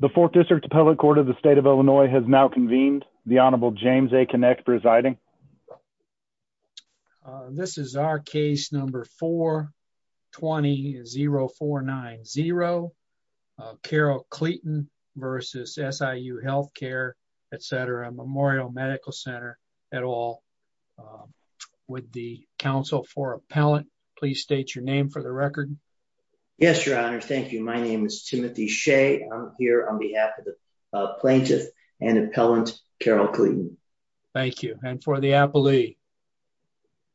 The 4th District Appellate Court of the State of Illinois has now convened. The Honorable James A. Kinect presiding. This is our case number 4-20-0490. Carol Cleeton vs. SIU Healthcare, etc., Memorial Medical Center, et al. Would the counsel for appellant please state your name for the record? Yes, Your Honor. Thank you. My name is Timothy Shea. I'm here on behalf of the plaintiff and appellant, Carol Cleeton. Thank you. And for the appellee?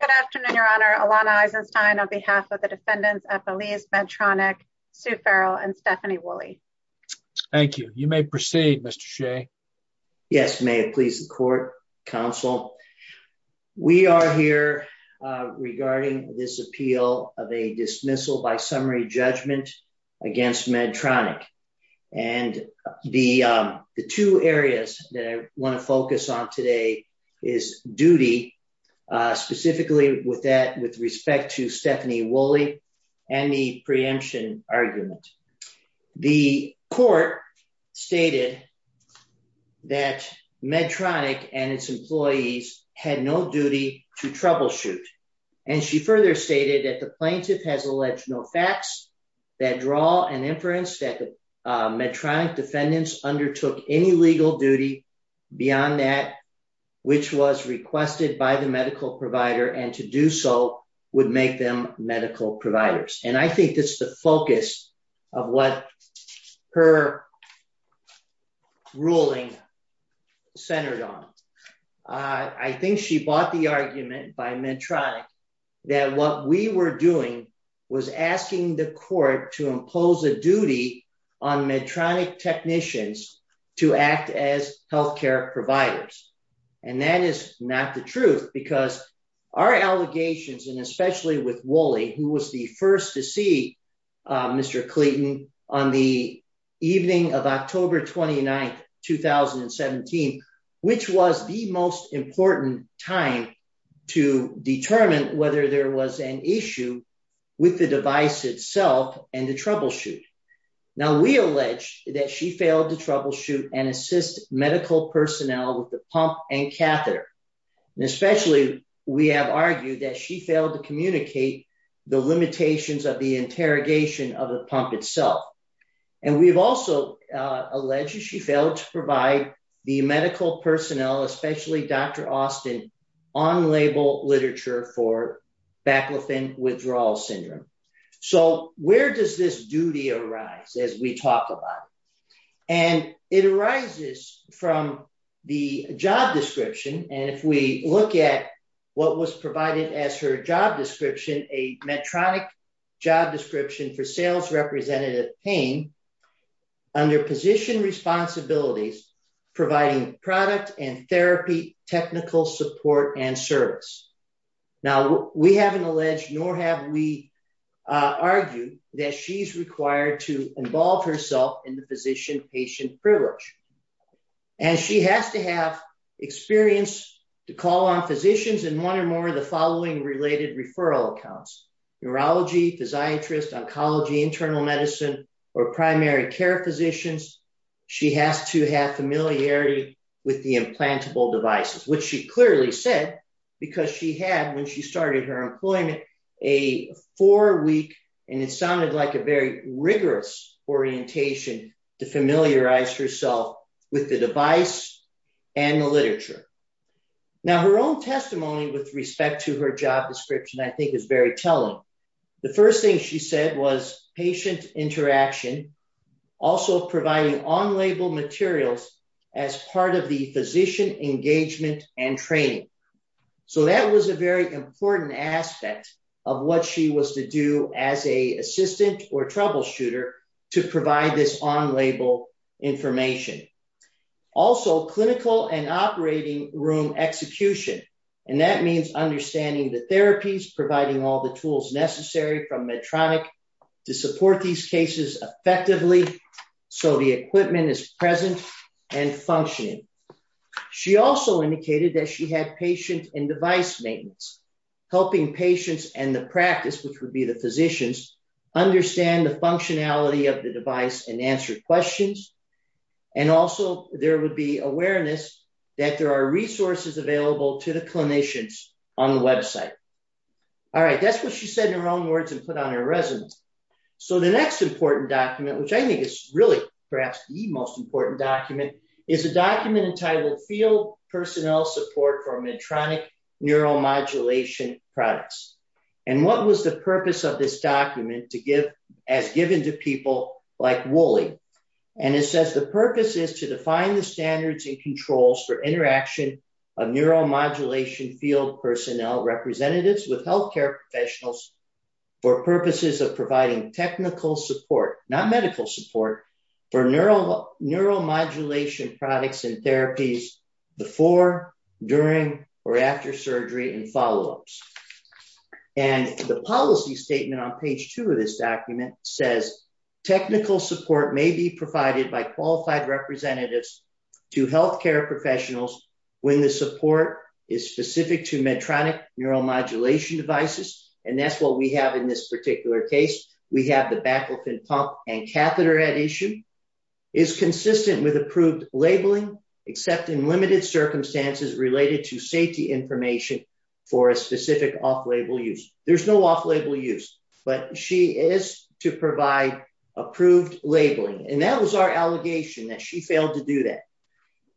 Good afternoon, Your Honor. Alana Eisenstein on behalf of the defendants, Appellees Medtronic, Sue Farrell, and Stephanie Woolley. Thank you. You may proceed, Mr. Shea. Yes, may it please the court, counsel. We are here regarding this appeal of a dismissal by summary judgment against Medtronic. And the two areas that I want to focus on today is duty, specifically with that with respect to Stephanie Woolley and the preemption argument. The court stated that Medtronic and its employees had no duty to troubleshoot. And she further stated that the plaintiff has alleged no facts that draw an inference that Medtronic defendants undertook any legal duty beyond that, which was requested by the medical provider and to do so would make them medical providers. And I think that's the focus of what her ruling centered on. I think she bought the argument by Medtronic that what we were doing was asking the court to impose a duty on Medtronic technicians to act as health care providers. And that is not the truth because our allegations, and especially with Woolley, who was the first to see Mr. Clayton on the evening of October 29th, 2017, which was the most important time to determine whether there was an issue with the device itself and the troubleshoot. Now, we allege that she failed to troubleshoot and assist medical personnel with the pump and catheter. And especially we have argued that she failed to communicate the limitations of the interrogation of the pump itself. And we've also alleged she failed to provide the medical personnel, especially Dr. Austin, on-label literature for Baclofen withdrawal syndrome. So where does this duty arise as we talk about it? And it arises from the job description. And if we look at what was provided as her job description, a Medtronic job description for sales representative pain under position responsibilities, providing product and therapy, technical support and service. Now, we haven't alleged nor have we argued that she's required to involve herself in the physician-patient privilege. And she has to have experience to call on physicians in one or more of the following related referral accounts. Neurology, physiatrist, oncology, internal medicine, or primary care physicians. She has to have familiarity with the implantable devices, which she clearly said, because she had, when she started her employment, a four-week, and it sounded like a very rigorous orientation to familiarize herself with the device and the literature. Now, her own testimony with respect to her job description, I think, is very telling. The first thing she said was patient interaction, also providing on-label materials as part of the physician engagement and training. So that was a very important aspect of what she was to do as a assistant or troubleshooter to provide this on-label information. Also, clinical and operating room execution, and that means understanding the therapies, providing all the tools necessary from Medtronic to support these cases effectively so the equipment is present and functioning. She also indicated that she had patient and device maintenance, helping patients and the practice, which would be the physicians, understand the functionality of the device and answer questions. And also, there would be awareness that there are resources available to the clinicians on the website. All right, that's what she said in her own words and put on her resume. So the next important document, which I think is really perhaps the most important document, is a document entitled Field Personnel Support for Medtronic Neuromodulation Products. And what was the purpose of this document as given to people like Woolley? And it says the purpose is to define the standards and controls for interaction of neuromodulation field personnel representatives with healthcare professionals for purposes of providing technical support, not medical support, for neuromodulation products and therapies before, during, or after surgery and follow-ups. And the policy statement on page two of this document says technical support may be provided by qualified representatives to healthcare professionals when the support is specific to Medtronic neuromodulation devices, and that's what we have in this particular case. We have the baclofen pump and catheter at issue, is consistent with approved labeling, except in limited circumstances related to safety information for a specific off-label use. There's no off-label use, but she is to provide approved labeling, and that was our allegation that she failed to do that.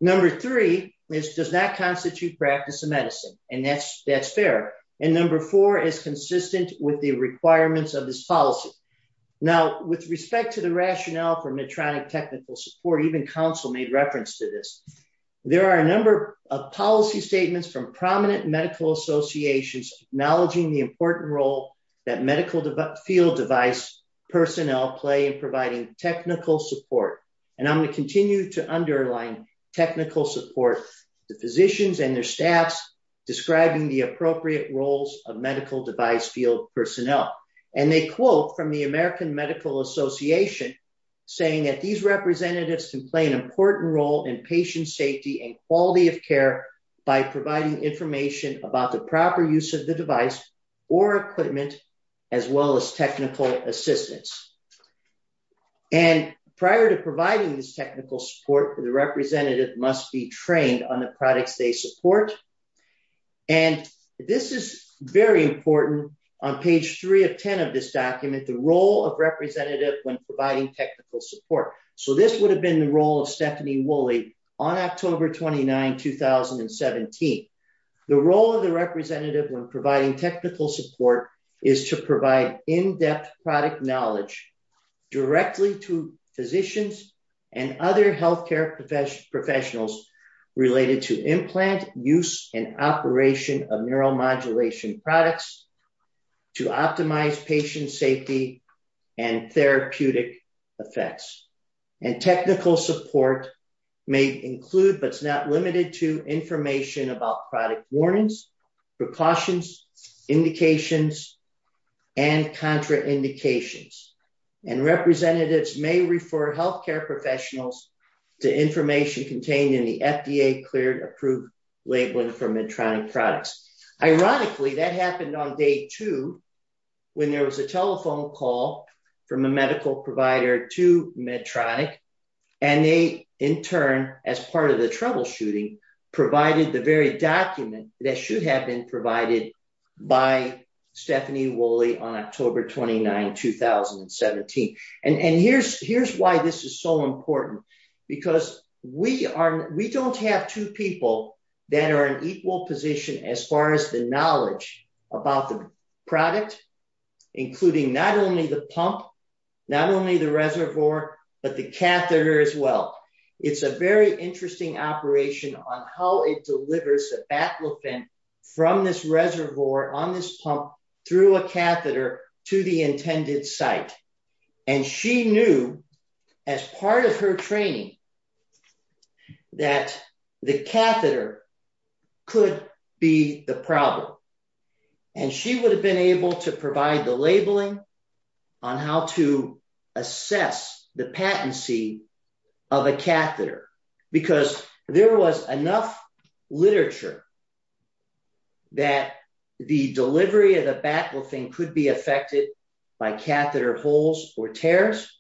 Number three is, does that constitute practice of medicine? And that's fair. And number four is consistent with the requirements of this policy. Now, with respect to the rationale for Medtronic technical support, even counsel made reference to this. There are a number of policy statements from prominent medical associations acknowledging the important role that medical field device personnel play in providing technical support. And I'm going to continue to underline technical support, the physicians and their staffs describing the appropriate roles of medical device field personnel. And they quote from the American Medical Association, saying that these representatives can play an important role in patient safety and quality of care by providing information about the proper use of the device or equipment, as well as technical assistance. And prior to providing this technical support, the representative must be trained on the products they support. And this is very important on page three of 10 of this document, the role of representative when providing technical support. So this would have been the role of Stephanie Woolley on October 29, 2017. The role of the representative when providing technical support is to provide in-depth product knowledge directly to physicians and other healthcare professionals related to implant use and operation of neuromodulation products to optimize patient safety and therapeutic effects. And technical support may include, but it's not limited to, information about product warnings, precautions, indications, and contraindications. And representatives may refer healthcare professionals to information contained in the FDA cleared approved labeling for Medtronic products. Ironically, that happened on day two, when there was a telephone call from a medical provider to Medtronic. And they, in turn, as part of the troubleshooting, provided the very document that should have been provided by Stephanie Woolley on October 29, 2017. And here's why this is so important, because we don't have two people that are in equal position as far as the knowledge about the product, including not only the pump, not only the reservoir, but the catheter as well. It's a very interesting operation on how it delivers a Baclofen from this reservoir on this pump through a catheter to the intended site. And she knew, as part of her training, that the catheter could be the problem. And she would have been able to provide the labeling on how to assess the patency of a catheter, because there was enough literature that the delivery of the Baclofen could be affected by catheter holes or tears.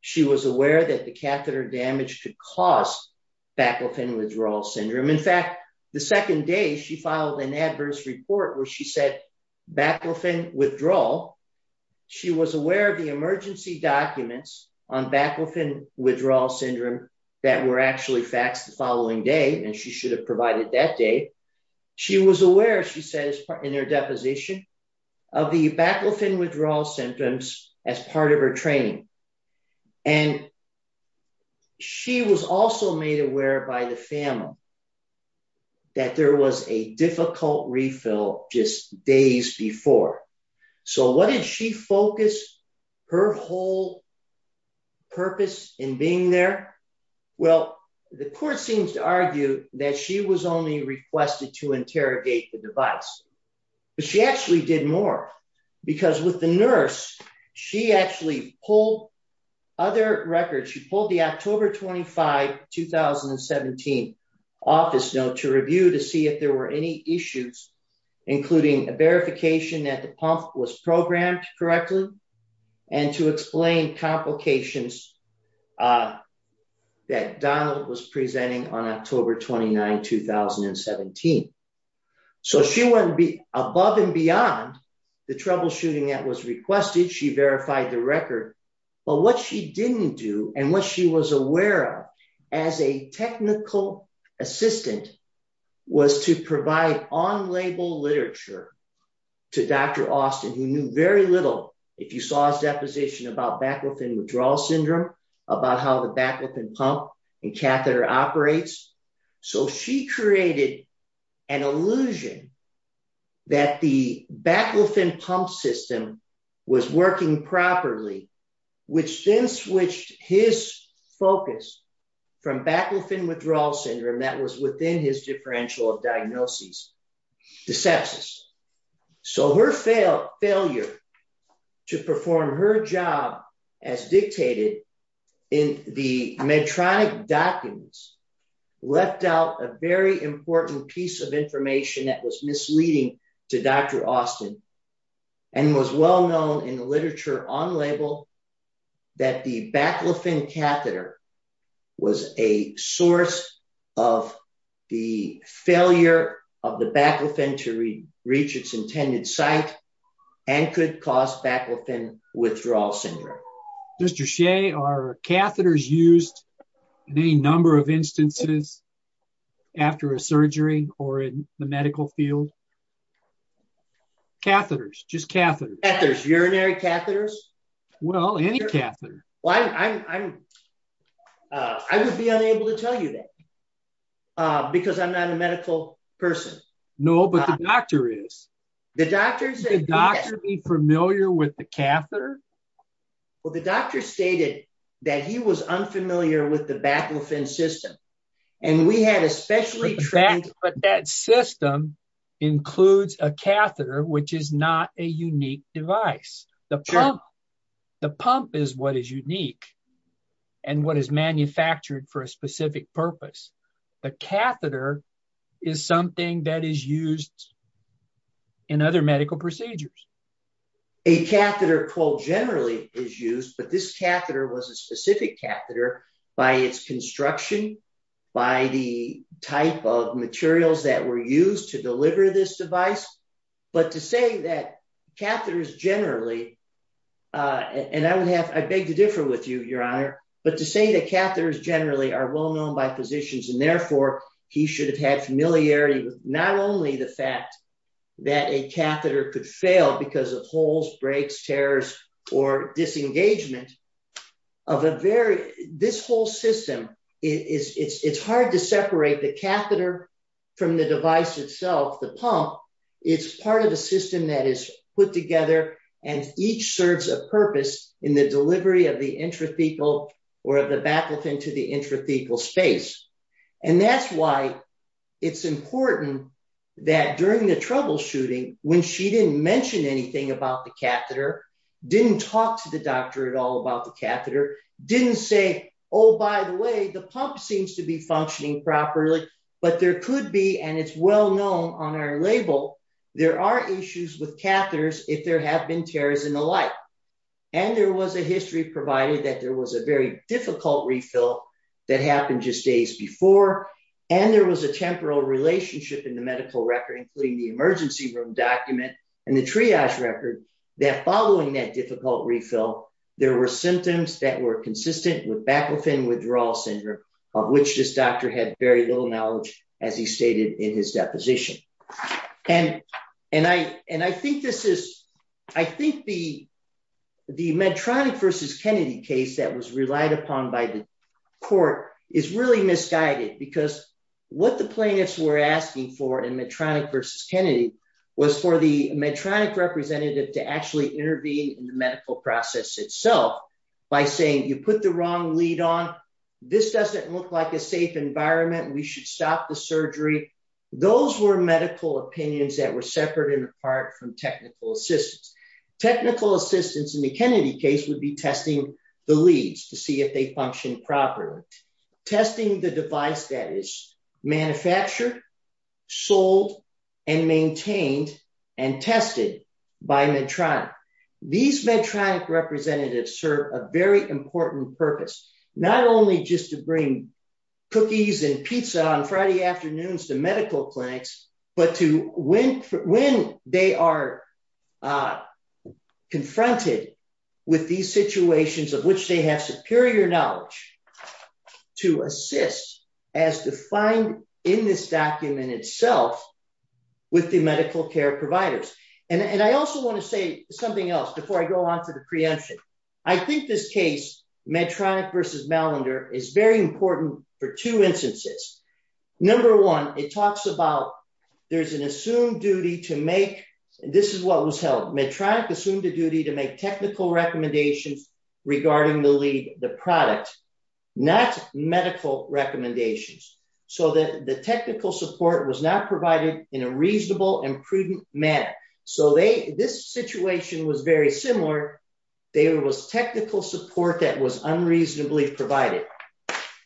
She was aware that the catheter damage could cause Baclofen withdrawal syndrome. In fact, the second day, she filed an adverse report where she said Baclofen withdrawal. She was aware of the emergency documents on Baclofen withdrawal syndrome that were actually faxed the following day, and she should have provided that day. She was aware, she says in her deposition, of the Baclofen withdrawal symptoms as part of her training. And she was also made aware by the family that there was a difficult refill just days before. So what did she focus her whole purpose in being there? Well, the court seems to argue that she was only requested to interrogate the device. But she actually did more, because with the nurse, she actually pulled other records. She pulled the October 25, 2017, office note to review to see if there were any issues, including a verification that the pump was programmed correctly, and to explain complications that Donald was presenting on October 29, 2017. So she went above and beyond the troubleshooting that was requested. She verified the record. But what she didn't do, and what she was aware of as a technical assistant, was to provide on-label literature to Dr. Austin, who knew very little, if you saw his deposition, about Baclofen withdrawal syndrome, about how the Baclofen pump and catheter operates. So she created an illusion that the Baclofen pump system was working properly, which then switched his focus from Baclofen withdrawal syndrome that was within his differential of diagnosis, to sepsis. So her failure to perform her job as dictated in the Medtronic documents left out a very important piece of information that was misleading to Dr. Austin, and was well known in the literature on-label that the Baclofen catheter was a source of the failure of the Baclofen to reach its intended site, and could cause Baclofen withdrawal syndrome. Mr. Shea, are catheters used in any number of instances after a surgery or in the medical field? Catheters, just catheters. Catheters, urinary catheters? Well, any catheter. I would be unable to tell you that, because I'm not a medical person. No, but the doctor is. Did the doctor be familiar with the catheter? Well, the doctor stated that he was unfamiliar with the Baclofen system. But that system includes a catheter, which is not a unique device. The pump is what is unique, and what is manufactured for a specific purpose. The catheter is something that is used in other medical procedures. A catheter, quote, generally is used, but this catheter was a specific catheter by its construction, by the type of materials that were used to deliver this device. But to say that catheters generally, and I would have, I beg to differ with you, Your Honor, but to say that catheters generally are well known by physicians, and therefore, he should have had familiarity with not only the fact that a catheter could fail because of holes, breaks, tears, or disengagement, of a very, this whole system, it's hard to separate the catheter from the device itself. The pump is part of a system that is put together, and each serves a purpose in the delivery of the intrathecal or of the Baclofen to the intrathecal space. And that's why it's important that during the troubleshooting, when she didn't mention anything about the catheter, didn't talk to the doctor at all about the catheter, didn't say, oh, by the way, the pump seems to be functioning properly, but there could be, and it's well known on our label, there are issues with catheters if there have been tears and the like. And there was a history provided that there was a very difficult refill that happened just days before, and there was a temporal relationship in the medical record, including the emergency room document and the triage record, that following that difficult refill, there were symptoms that were consistent with Baclofen withdrawal syndrome, of which this doctor had very little knowledge, as he stated in his deposition. And I think this is, I think the Medtronic versus Kennedy case that was relied upon by the court is really misguided, because what the plaintiffs were asking for in Medtronic versus Kennedy was for the Medtronic representative to actually intervene in the medical process itself by saying, you put the wrong lead on, this doesn't look like a safe environment, we should stop the surgery. Those were medical opinions that were separate and apart from technical assistance. Technical assistance in the Kennedy case would be testing the leads to see if they functioned properly. Testing the device that is manufactured, sold, and maintained and tested by Medtronic. These Medtronic representatives serve a very important purpose, not only just to bring cookies and pizza on Friday afternoons to medical clinics, but to when they are confronted with these situations of which they have superior knowledge to assist as defined in this document itself with the medical care providers. And I also want to say something else before I go on to the preemption. I think this case, Medtronic versus Malander, is very important for two instances. Number one, it talks about there's an assumed duty to make, this is what was held, Medtronic assumed a duty to make technical recommendations regarding the lead, the product, not medical recommendations. So that the technical support was not provided in a reasonable and prudent manner. So this situation was very similar. There was technical support that was unreasonably provided.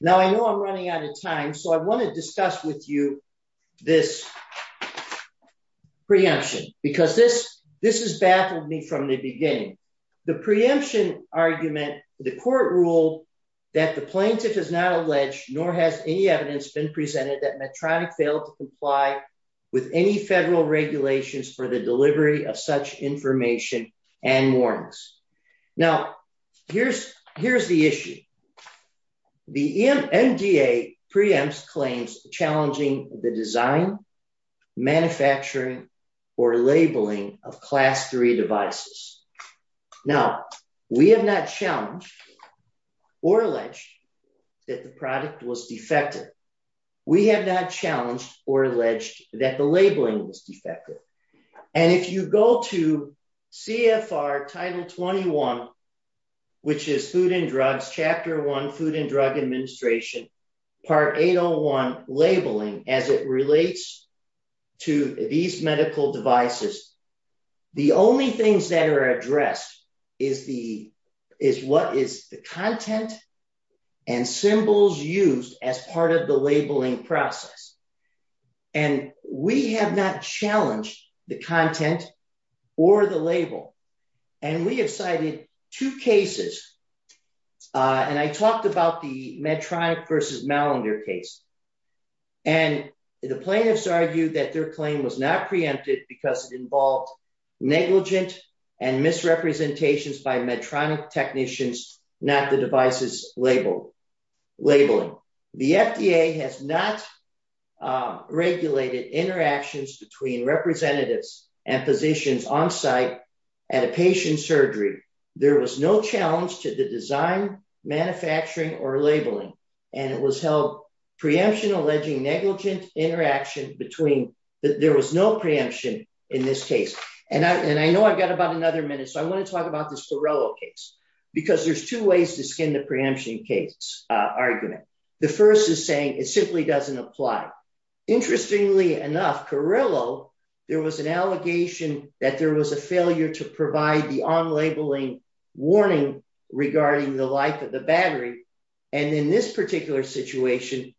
Now I know I'm running out of time, so I want to discuss with you this preemption. Because this has baffled me from the beginning. The preemption argument, the court ruled that the plaintiff is not alleged, nor has any evidence been presented that Medtronic failed to comply with any federal regulations for the delivery of such information and warnings. Now, here's the issue. The MDA preempts claims challenging the design, manufacturing, or labeling of class three devices. Now, we have not challenged or alleged that the product was defective. We have not challenged or alleged that the labeling was defective. And if you go to CFR Title 21, which is Food and Drugs, Chapter 1, Food and Drug Administration, Part 801, labeling, as it relates to these medical devices, the only things that are addressed is what is the content and symbols used as part of the labeling process. And we have not challenged the content or the label. And we have cited two cases. And I talked about the Medtronic versus Mallinder case. And the plaintiffs argued that their claim was not preempted because it involved negligent and misrepresentations by Medtronic technicians, not the device's labeling. The FDA has not regulated interactions between representatives and physicians on site at a patient surgery. There was no challenge to the design, manufacturing, or labeling. And it was held preemption alleging negligent interaction between, there was no preemption in this case. And I know I've got about another minute, so I want to talk about this Carrillo case. Because there's two ways to skin the preemption case argument. The first is saying it simply doesn't apply. Interestingly enough, Carrillo, there was an allegation that there was a failure to provide the on-labeling warning regarding the life of the battery. And in this particular situation,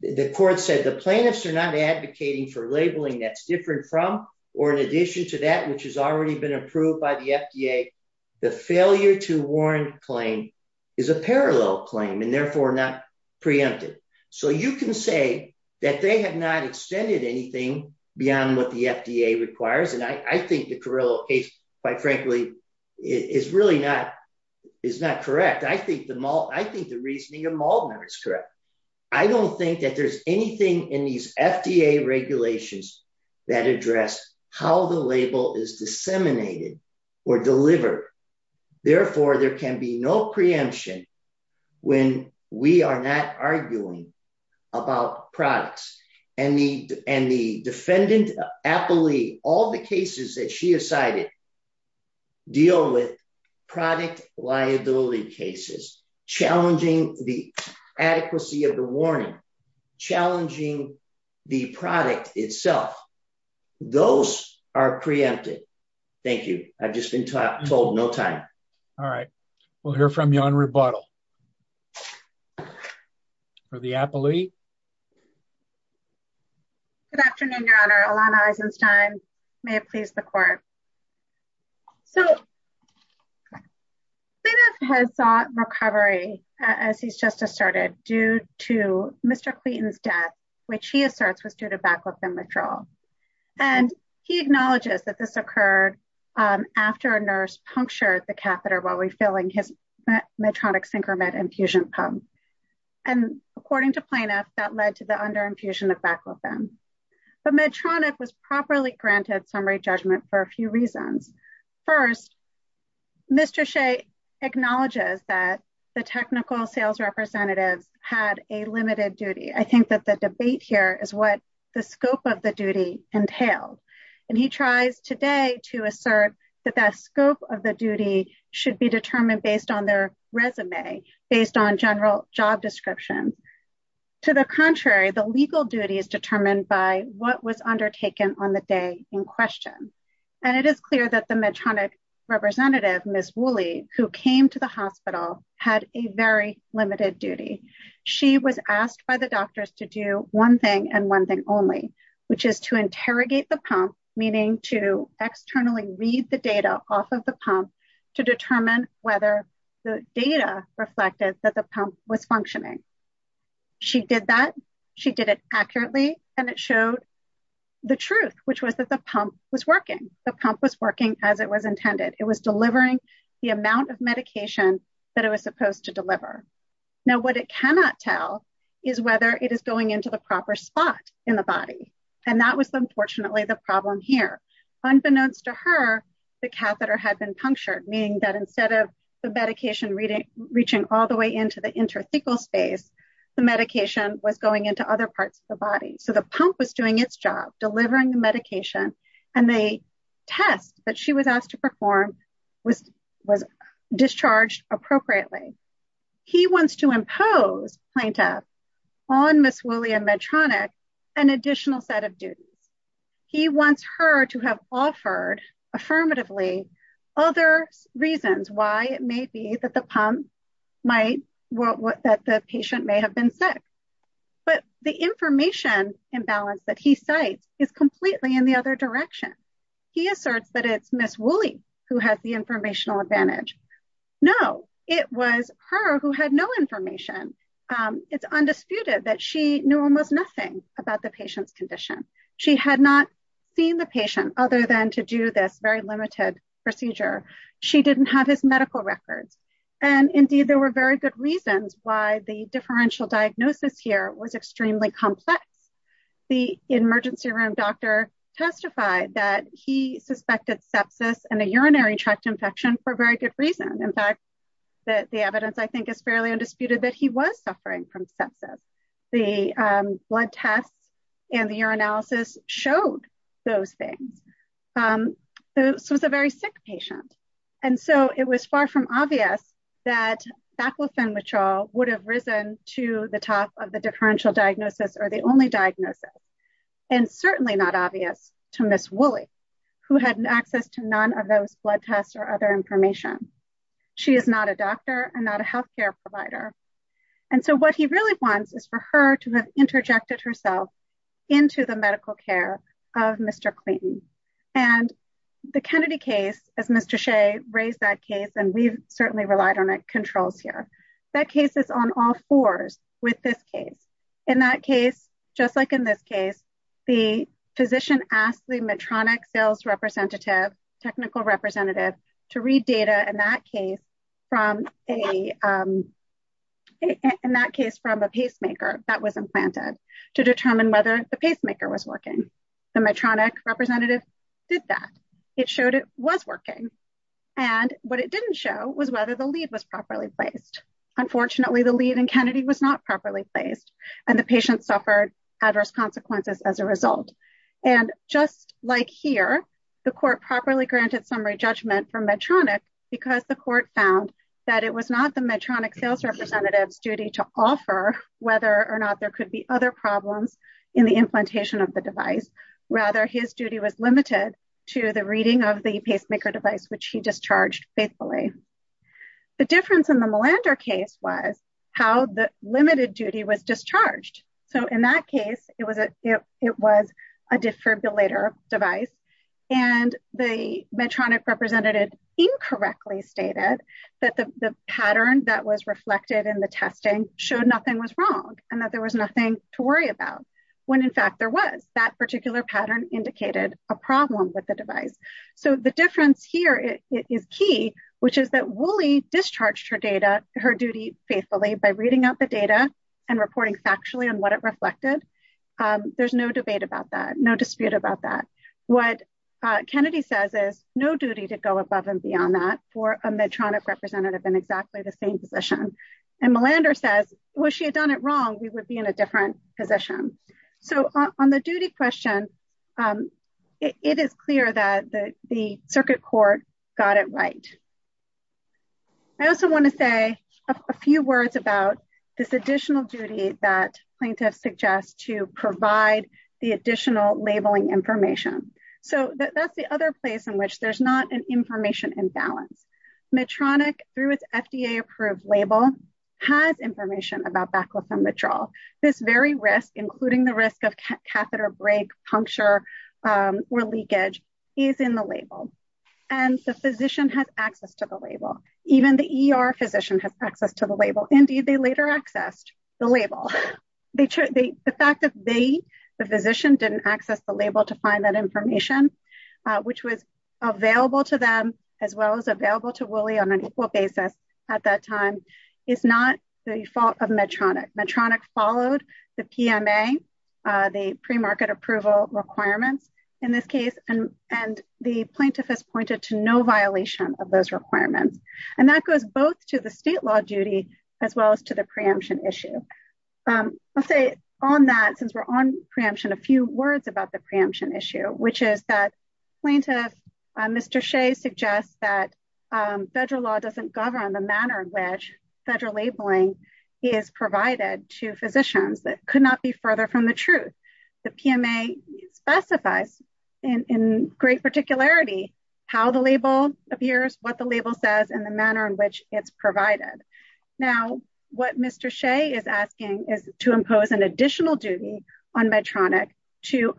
the court said the plaintiffs are not advocating for labeling that's different from or in addition to that, which has already been approved by the FDA. The failure to warrant claim is a parallel claim and therefore not preempted. So you can say that they have not extended anything beyond what the FDA requires. And I think the Carrillo case, quite frankly, is really not, is not correct. I think the reasoning of Maldner is correct. I don't think that there's anything in these FDA regulations that address how the label is disseminated or delivered. Therefore, there can be no preemption when we are not arguing about products. And the defendant, Apolli, all the cases that she has cited deal with product liability cases, challenging the adequacy of the warning, challenging the product itself. Those are preempted. Thank you. I've just been told no time. All right. We'll hear from you on rebuttal. For the Apolli. Good afternoon, Your Honor. Alana Eisenstein, may it please the court. So. Plaintiff has sought recovery, as he's just asserted, due to Mr. Clayton's death, which he asserts was due to baclofen withdrawal. And he acknowledges that this occurred after a nurse punctured the catheter while refilling his Medtronic synchromed infusion pump. And according to plaintiff, that led to the under infusion of baclofen. But Medtronic was properly granted summary judgment for a few reasons. First, Mr. Shea acknowledges that the technical sales representatives had a limited duty. I think that the debate here is what the scope of the duty entailed. And he tries today to assert that that scope of the duty should be determined based on their resume, based on general job description. To the contrary, the legal duty is determined by what was undertaken on the day in question. And it is clear that the Medtronic representative, Ms. Wooley, who came to the hospital, had a very limited duty. She was asked by the doctors to do one thing and one thing only, which is to interrogate the pump, meaning to externally read the data off of the pump to determine whether the data reflected that the pump was functioning. She did that. She did it accurately. And it showed the truth, which was that the pump was working. The pump was working as it was intended. It was delivering the amount of medication that it was supposed to deliver. Now, what it cannot tell is whether it is going into the proper spot in the body. And that was unfortunately the problem here. Unbeknownst to her, the catheter had been punctured, meaning that instead of the medication reaching all the way into the interthecal space, the medication was going into other parts of the body. So the pump was doing its job, delivering the medication, and the test that she was asked to perform was discharged appropriately. He wants to impose, plaintiff, on Ms. Woolley and Medtronic an additional set of duties. He wants her to have offered, affirmatively, other reasons why it may be that the patient may have been sick. But the information imbalance that he cites is completely in the other direction. He asserts that it's Ms. Woolley who has the informational advantage. No, it was her who had no information. It's undisputed that she knew almost nothing about the patient's condition. She had not seen the patient other than to do this very limited procedure. She didn't have his medical records. And indeed, there were very good reasons why the differential diagnosis here was extremely complex. The emergency room doctor testified that he suspected sepsis and a urinary tract infection for very good reason. In fact, the evidence, I think, is fairly undisputed that he was suffering from sepsis. The blood tests and the urinalysis showed those things. This was a very sick patient. And so it was far from obvious that baclofen withdrawal would have risen to the top of the differential diagnosis or the only diagnosis. And certainly not obvious to Ms. Woolley, who had access to none of those blood tests or other information. She is not a doctor and not a health care provider. And so what he really wants is for her to have interjected herself into the medical care of Mr. Clayton. And the Kennedy case, as Mr. Shea raised that case, and we've certainly relied on it, controls here. That case is on all fours with this case. In that case, just like in this case, the physician asked the Medtronic sales representative, technical representative, to read data in that case from a pacemaker that was implanted to determine whether the pacemaker was working. The Medtronic representative did that. It showed it was working. And what it didn't show was whether the lead was properly placed. Unfortunately, the lead in Kennedy was not properly placed and the patient suffered adverse consequences as a result. And just like here, the court properly granted summary judgment for Medtronic, because the court found that it was not the Medtronic sales representative's duty to offer whether or not there could be other problems in the implantation of the device. Rather, his duty was limited to the reading of the pacemaker device, which he discharged faithfully. The difference in the Melander case was how the limited duty was discharged. So in that case, it was a defibrillator device. And the Medtronic representative incorrectly stated that the pattern that was reflected in the testing showed nothing was wrong and that there was nothing to worry about, when in fact there was. That particular pattern indicated a problem with the device. So the difference here is key, which is that Wooley discharged her duty faithfully by reading out the data and reporting factually on what it reflected. There's no debate about that, no dispute about that. What Kennedy says is, no duty to go above and beyond that for a Medtronic representative in exactly the same position. And Melander says, well, if she had done it wrong, we would be in a different position. So on the duty question, it is clear that the circuit court got it right. I also want to say a few words about this additional duty that plaintiffs suggest to provide the additional labeling information. So that's the other place in which there's not an information imbalance. Medtronic, through its FDA approved label, has information about baclofen withdrawal. This very risk, including the risk of catheter break, puncture, or leakage, is in the label. And the physician has access to the label. Even the ER physician has access to the label. Indeed, they later accessed the label. The fact that they, the physician, didn't access the label to find that information, which was available to them, as well as available to Wooley on an equal basis at that time, is not the fault of Medtronic. Medtronic followed the PMA, the premarket approval requirements in this case. And the plaintiff has pointed to no violation of those requirements. And that goes both to the state law duty as well as to the preemption issue. I'll say on that, since we're on preemption, a few words about the preemption issue, which is that plaintiff Mr. Shea suggests that federal law doesn't govern the manner in which federal labeling is provided to physicians. That could not be further from the truth. The PMA specifies in great particularity how the label appears, what the label says, and the manner in which it's provided. Now, what Mr. Shea is asking is to impose an additional duty on Medtronic to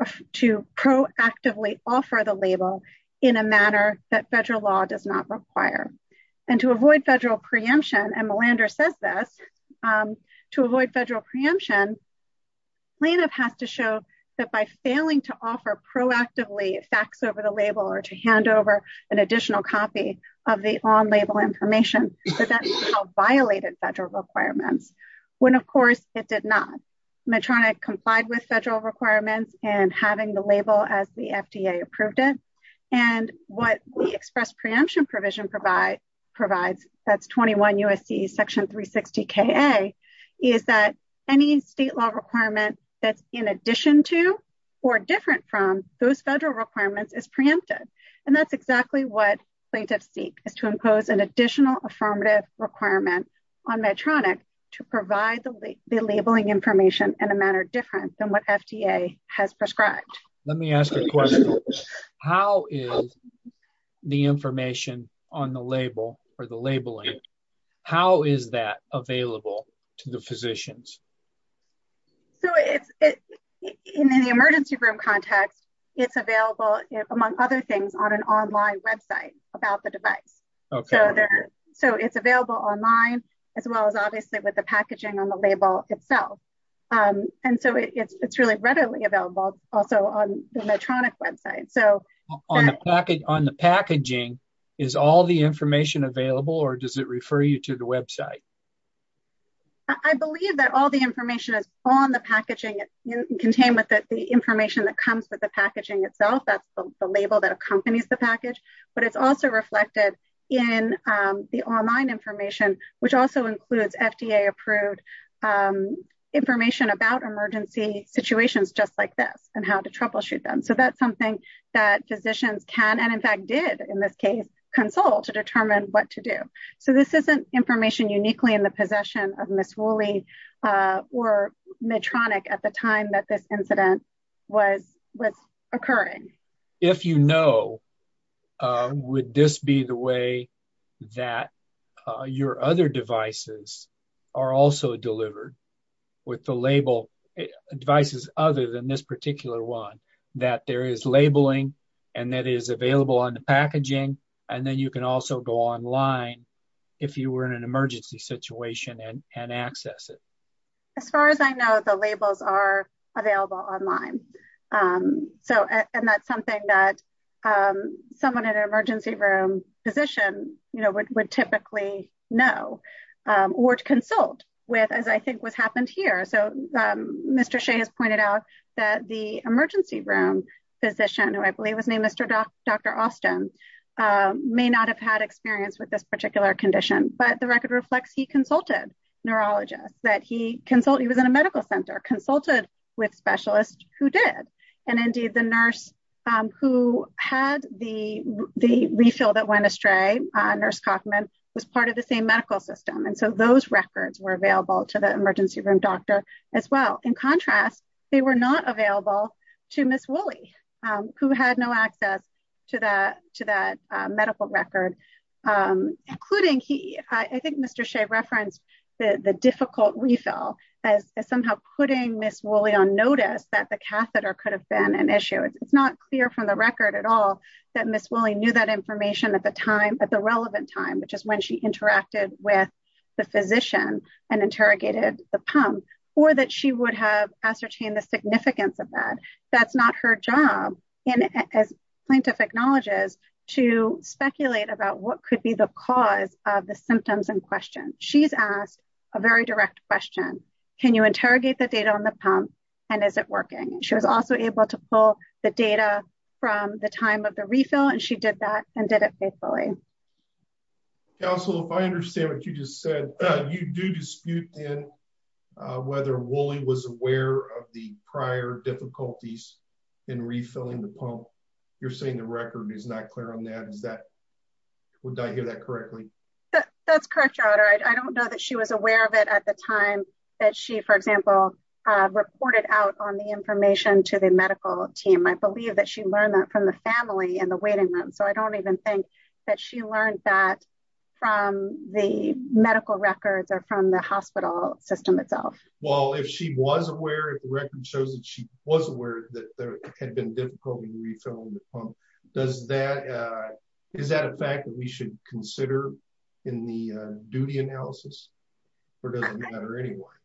proactively offer the label in a manner that federal law does not require. And to avoid federal preemption, and Melander says this, to avoid federal preemption, plaintiff has to show that by failing to offer proactively fax over the label or to hand over an additional copy of the on-label information, that that violated federal requirements. When, of course, it did not. Medtronic complied with federal requirements and having the label as the FDA approved it. And what we express preemption provision provides, that's 21 U.S.C. section 360 K.A., is that any state law requirement that's in addition to or different from those federal requirements is preempted. And that's exactly what plaintiffs seek, is to impose an additional affirmative requirement on Medtronic to provide the labeling information in a manner different than what FDA has prescribed. Let me ask a question. How is the information on the label or the labeling, how is that available to the physicians? So, in the emergency room context, it's available, among other things, on an online website about the device. So it's available online, as well as obviously with the packaging on the label itself. And so it's really readily available also on the Medtronic website. On the packaging, is all the information available or does it refer you to the website? I believe that all the information is on the packaging, contained with the information that comes with the packaging itself. That's the label that accompanies the package. But it's also reflected in the online information, which also includes FDA approved information about emergency situations just like this and how to troubleshoot them. So that's something that physicians can, and in fact did in this case, consult to determine what to do. So this isn't information uniquely in the possession of Ms. Woolley or Medtronic at the time that this incident was occurring. If you know, would this be the way that your other devices are also delivered with the label devices, other than this particular one, that there is labeling and that is available on the packaging, and then you can also go online. If you were in an emergency situation and access it. As far as I know, the labels are available online. So, and that's something that someone in an emergency room physician, you know, would typically know or to consult with as I think what's happened here. So, Mr. Shea has pointed out that the emergency room physician who I believe was named Mr. Dr. Austin may not have had experience with this particular condition, but the record reflects he consulted neurologist that he consulted he was in a medical center consulted with specialist, who did. And indeed the nurse who had the, the refill that went astray nurse Kaufman was part of the same medical system and so those records were available to the emergency room doctor as well. In contrast, they were not available to Miss Willie, who had no access to that, to that medical record, including he, I think Mr Shea referenced the difficult refill as somehow putting Miss Willie on notice that the catheter could have been an issue it's not clear from the record at all that Miss Willie knew that information at the time at the relevant time which is when she interacted with the physician and interrogated the pump, or that she would have ascertain the significance of that. That's not her job. And as plaintiff acknowledges to speculate about what could be the cause of the symptoms and question, she's asked a very direct question. Can you interrogate the data on the pump. And is it working, she was also able to pull the data from the time of the refill and she did that, and did it faithfully. Also, if I understand what you just said, you do dispute in whether Willie was aware of the prior difficulties in refilling the pump. You're saying the record is not clear on that is that would I hear that correctly. That's correct. I don't know that she was aware of it at the time that she for example, reported out on the information to the medical team I believe that she learned that from the family and the waiting room so I don't even think that she learned that from the medical records are from the hospital system itself. Well if she was aware of the record shows that she was aware that there had been difficulty refilling the pump. Does that. Is that a fact that we should consider in the duty analysis, or does it matter anymore.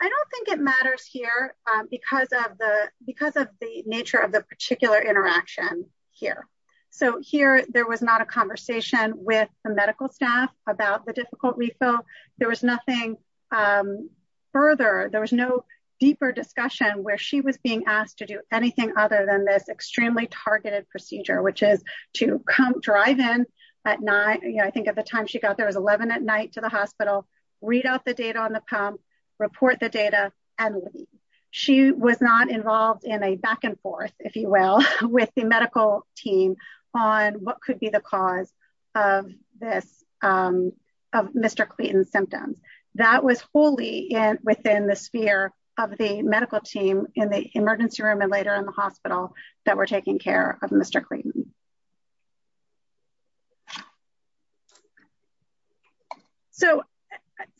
I don't think it matters here because of the, because of the nature of the particular interaction here. So here, there was not a conversation with the medical staff about the difficult refill. There was nothing further there was no deeper discussion where she was being asked to do anything other than this extremely targeted procedure which is to come drive in at night, I think at the time she got there was 11 at night to the hospital, read out the data on the pump report the data, and she was not involved in a back and forth, if you will, with the medical team on what could be the cause of this. Mr. Clinton symptoms that was wholly and within the sphere of the medical team in the emergency room and later in the hospital that we're taking care of Mr. Clinton. So,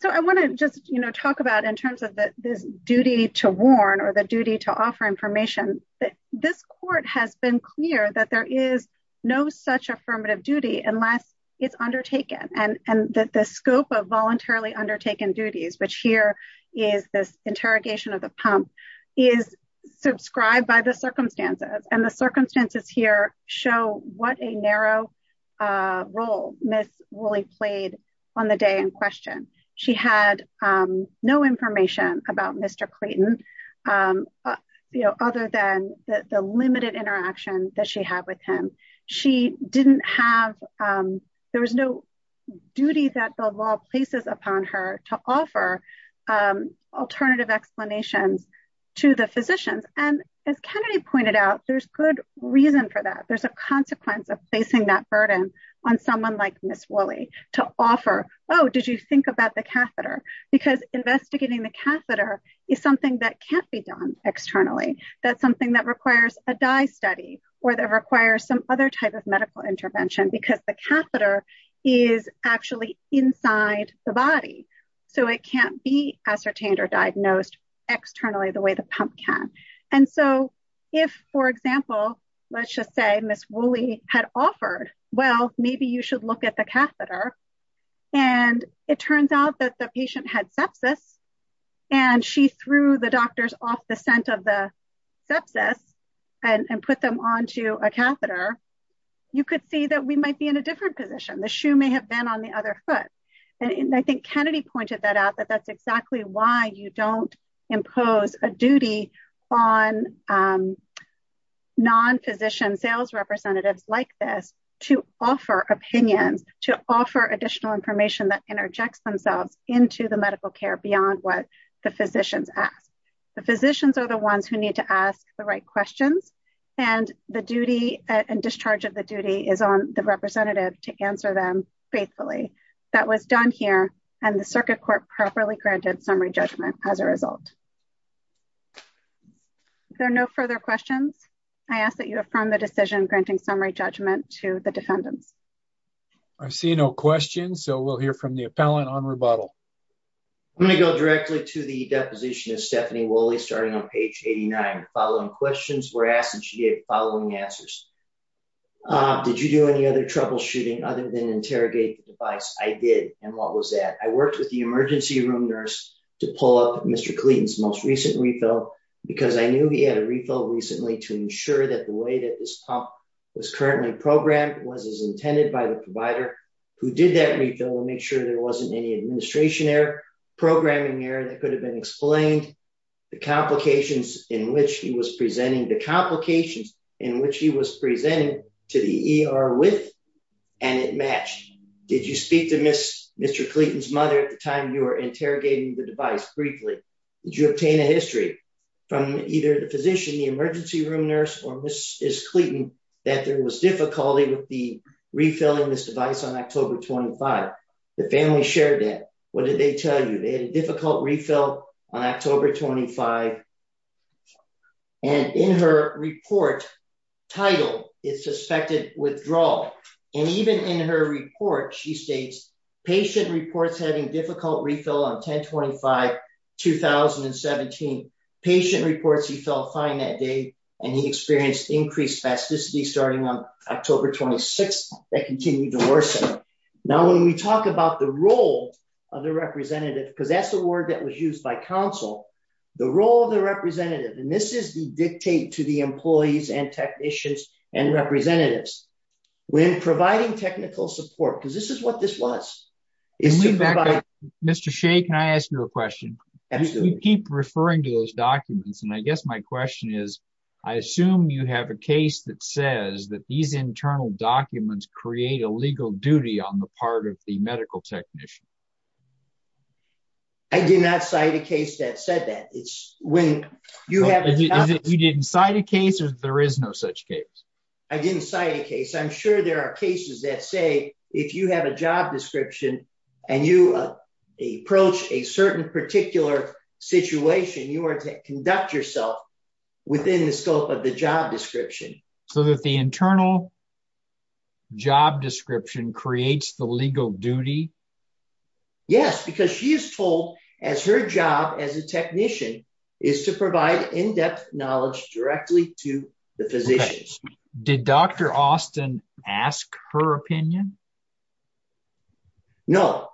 so I want to just, you know, talk about in terms of this duty to warn or the duty to offer information that this court has been clear that there is no such affirmative duty unless it's undertaken, and that the scope of voluntarily undertaken duties which here is this interrogation of the pump is subscribed by the circumstances and the circumstances here, show what a narrow role, Miss Willie played on the day in question. She had no information about Mr. Clinton. You know, other than the limited interaction that she had with him. She didn't have. There was no duty that the law places upon her to offer alternative explanations to the physicians and as Kennedy pointed out there's good reason for that there's a consequence of facing that burden on someone like Miss Willie to offer. Oh, did you think about the catheter, because investigating the catheter is something that can't be done externally. That's something that requires a die study, or that requires some other type of medical intervention because the catheter is actually inside the body. So it can't be ascertained or diagnosed externally the way the pump can. And so, if, for example, let's just say Miss Willie had offered, well, maybe you should look at the catheter. And it turns out that the patient had sepsis. And she threw the doctors off the scent of the sepsis and put them on to a catheter. You could see that we might be in a different position the shoe may have been on the other foot. And I think Kennedy pointed that out that that's exactly why you don't impose a duty on non physician sales representatives like this to offer opinions to offer additional information that interjects themselves into the medical care beyond what the physicians ask the physicians are the ones who need to ask the right questions, and the duty and discharge of the duty is on the representative to answer them faithfully. That was done here, and the circuit court properly granted summary judgment as a result. There are no further questions. I ask that you have from the decision granting summary judgment to the defendants. I see no questions so we'll hear from the appellant on rebuttal. I'm going to go directly to the deposition of Stephanie Willie starting on page 89 following questions were asked and she did following answers. Did you do any other troubleshooting other than interrogate the device, I did. And what was that I worked with the emergency room nurse to pull up Mr. Clemens most recently though, because I knew he had a refill recently to ensure that the way that this pump was currently programmed was intended by the provider who did that refill and make sure there wasn't any administration error programming error that could have been explained the complications, in which he was presenting the complications in which he was presenting to the ER with. And it matched. Did you speak to miss Mr Clemens mother at the time you are interrogating the device briefly. Did you obtain a history from either the physician the emergency room nurse or Mrs. Clemens that there was difficulty with the refilling this device on October 25, the family shared it. What did they tell you they had a difficult refill on October 25, and in her report title is suspected withdrawal. And even in her report she states, patient reports having difficult refill on 1025 2017 patient reports he felt fine that day, and he experienced increased spasticity starting on October 26, that continued to worsen. Now when we talk about the role of the representative because that's the word that was used by Council, the role of the representative and this is the dictate to the employees and technicians and representatives, when providing technical support because this is what the medical technician. I did not cite a case that said that it's when you have you didn't cite a case or there is no such case. I didn't cite a case I'm sure there are cases that say, if you have a job description, and you approach a certain particular situation you are to conduct yourself within the scope of the job description, so that the internal job description creates the legal duty. Yes, because she is told as her job as a technician is to provide in depth knowledge directly to the physicians. Did Dr. Austin, ask her opinion. No,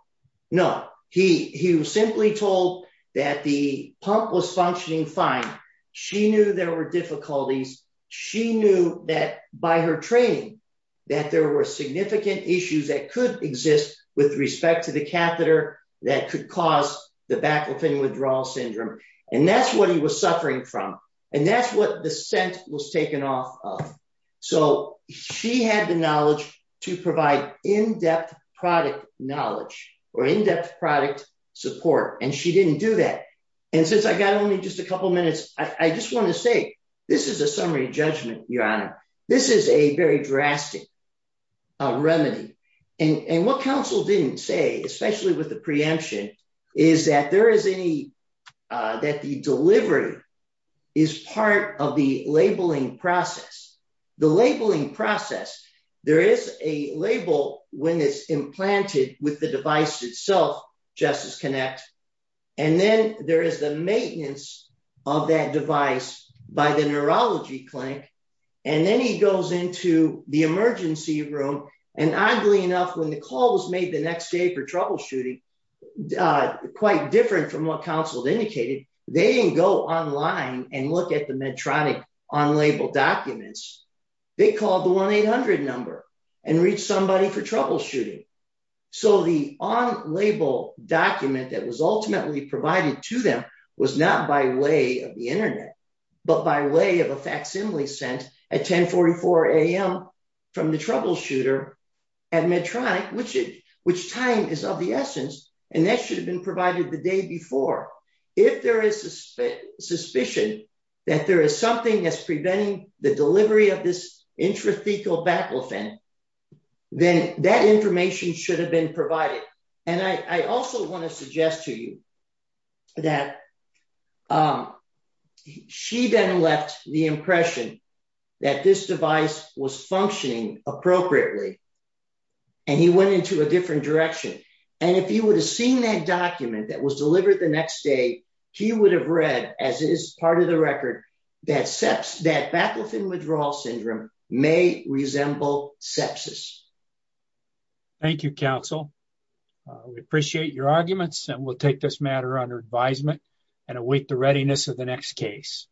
no, he, he was simply told that the pump was functioning fine. She knew there were difficulties. She knew that by her training that there were significant issues that could exist with respect to the catheter, that could cause the back with any withdrawal in depth product knowledge, or in depth product support, and she didn't do that. And since I got only just a couple minutes, I just want to say, this is a summary judgment, your honor. This is a very drastic remedy. And what counsel didn't say, especially with the preemption, is that there is any that the delivery is part of the labeling process, the labeling process. There is a label when it's implanted with the device itself, Justice Connect. And then there is the maintenance of that device by the neurology clinic. And then he goes into the emergency room, and oddly enough when the call was made the next day for troubleshooting, quite different from what counsel indicated, they didn't go online and look at the Medtronic on-label documents, they called the 1-800 number and reach somebody for troubleshooting. So the on-label document that was ultimately provided to them was not by way of the internet, but by way of a facsimile sent at 1044 AM from the troubleshooter at Medtronic, which time is of the essence, and that should have been provided the day before. If there is suspicion that there is something that's preventing the delivery of this intrathecal baclofen, then that information should have been provided. And I also want to suggest to you that she then left the impression that this device was functioning appropriately, and he went into a different direction. And if he would have seen that document that was delivered the next day, he would have read, as is part of the record, that baclofen withdrawal syndrome may resemble sepsis. Thank you, counsel. We appreciate your arguments, and we'll take this matter under advisement and await the readiness of the next case.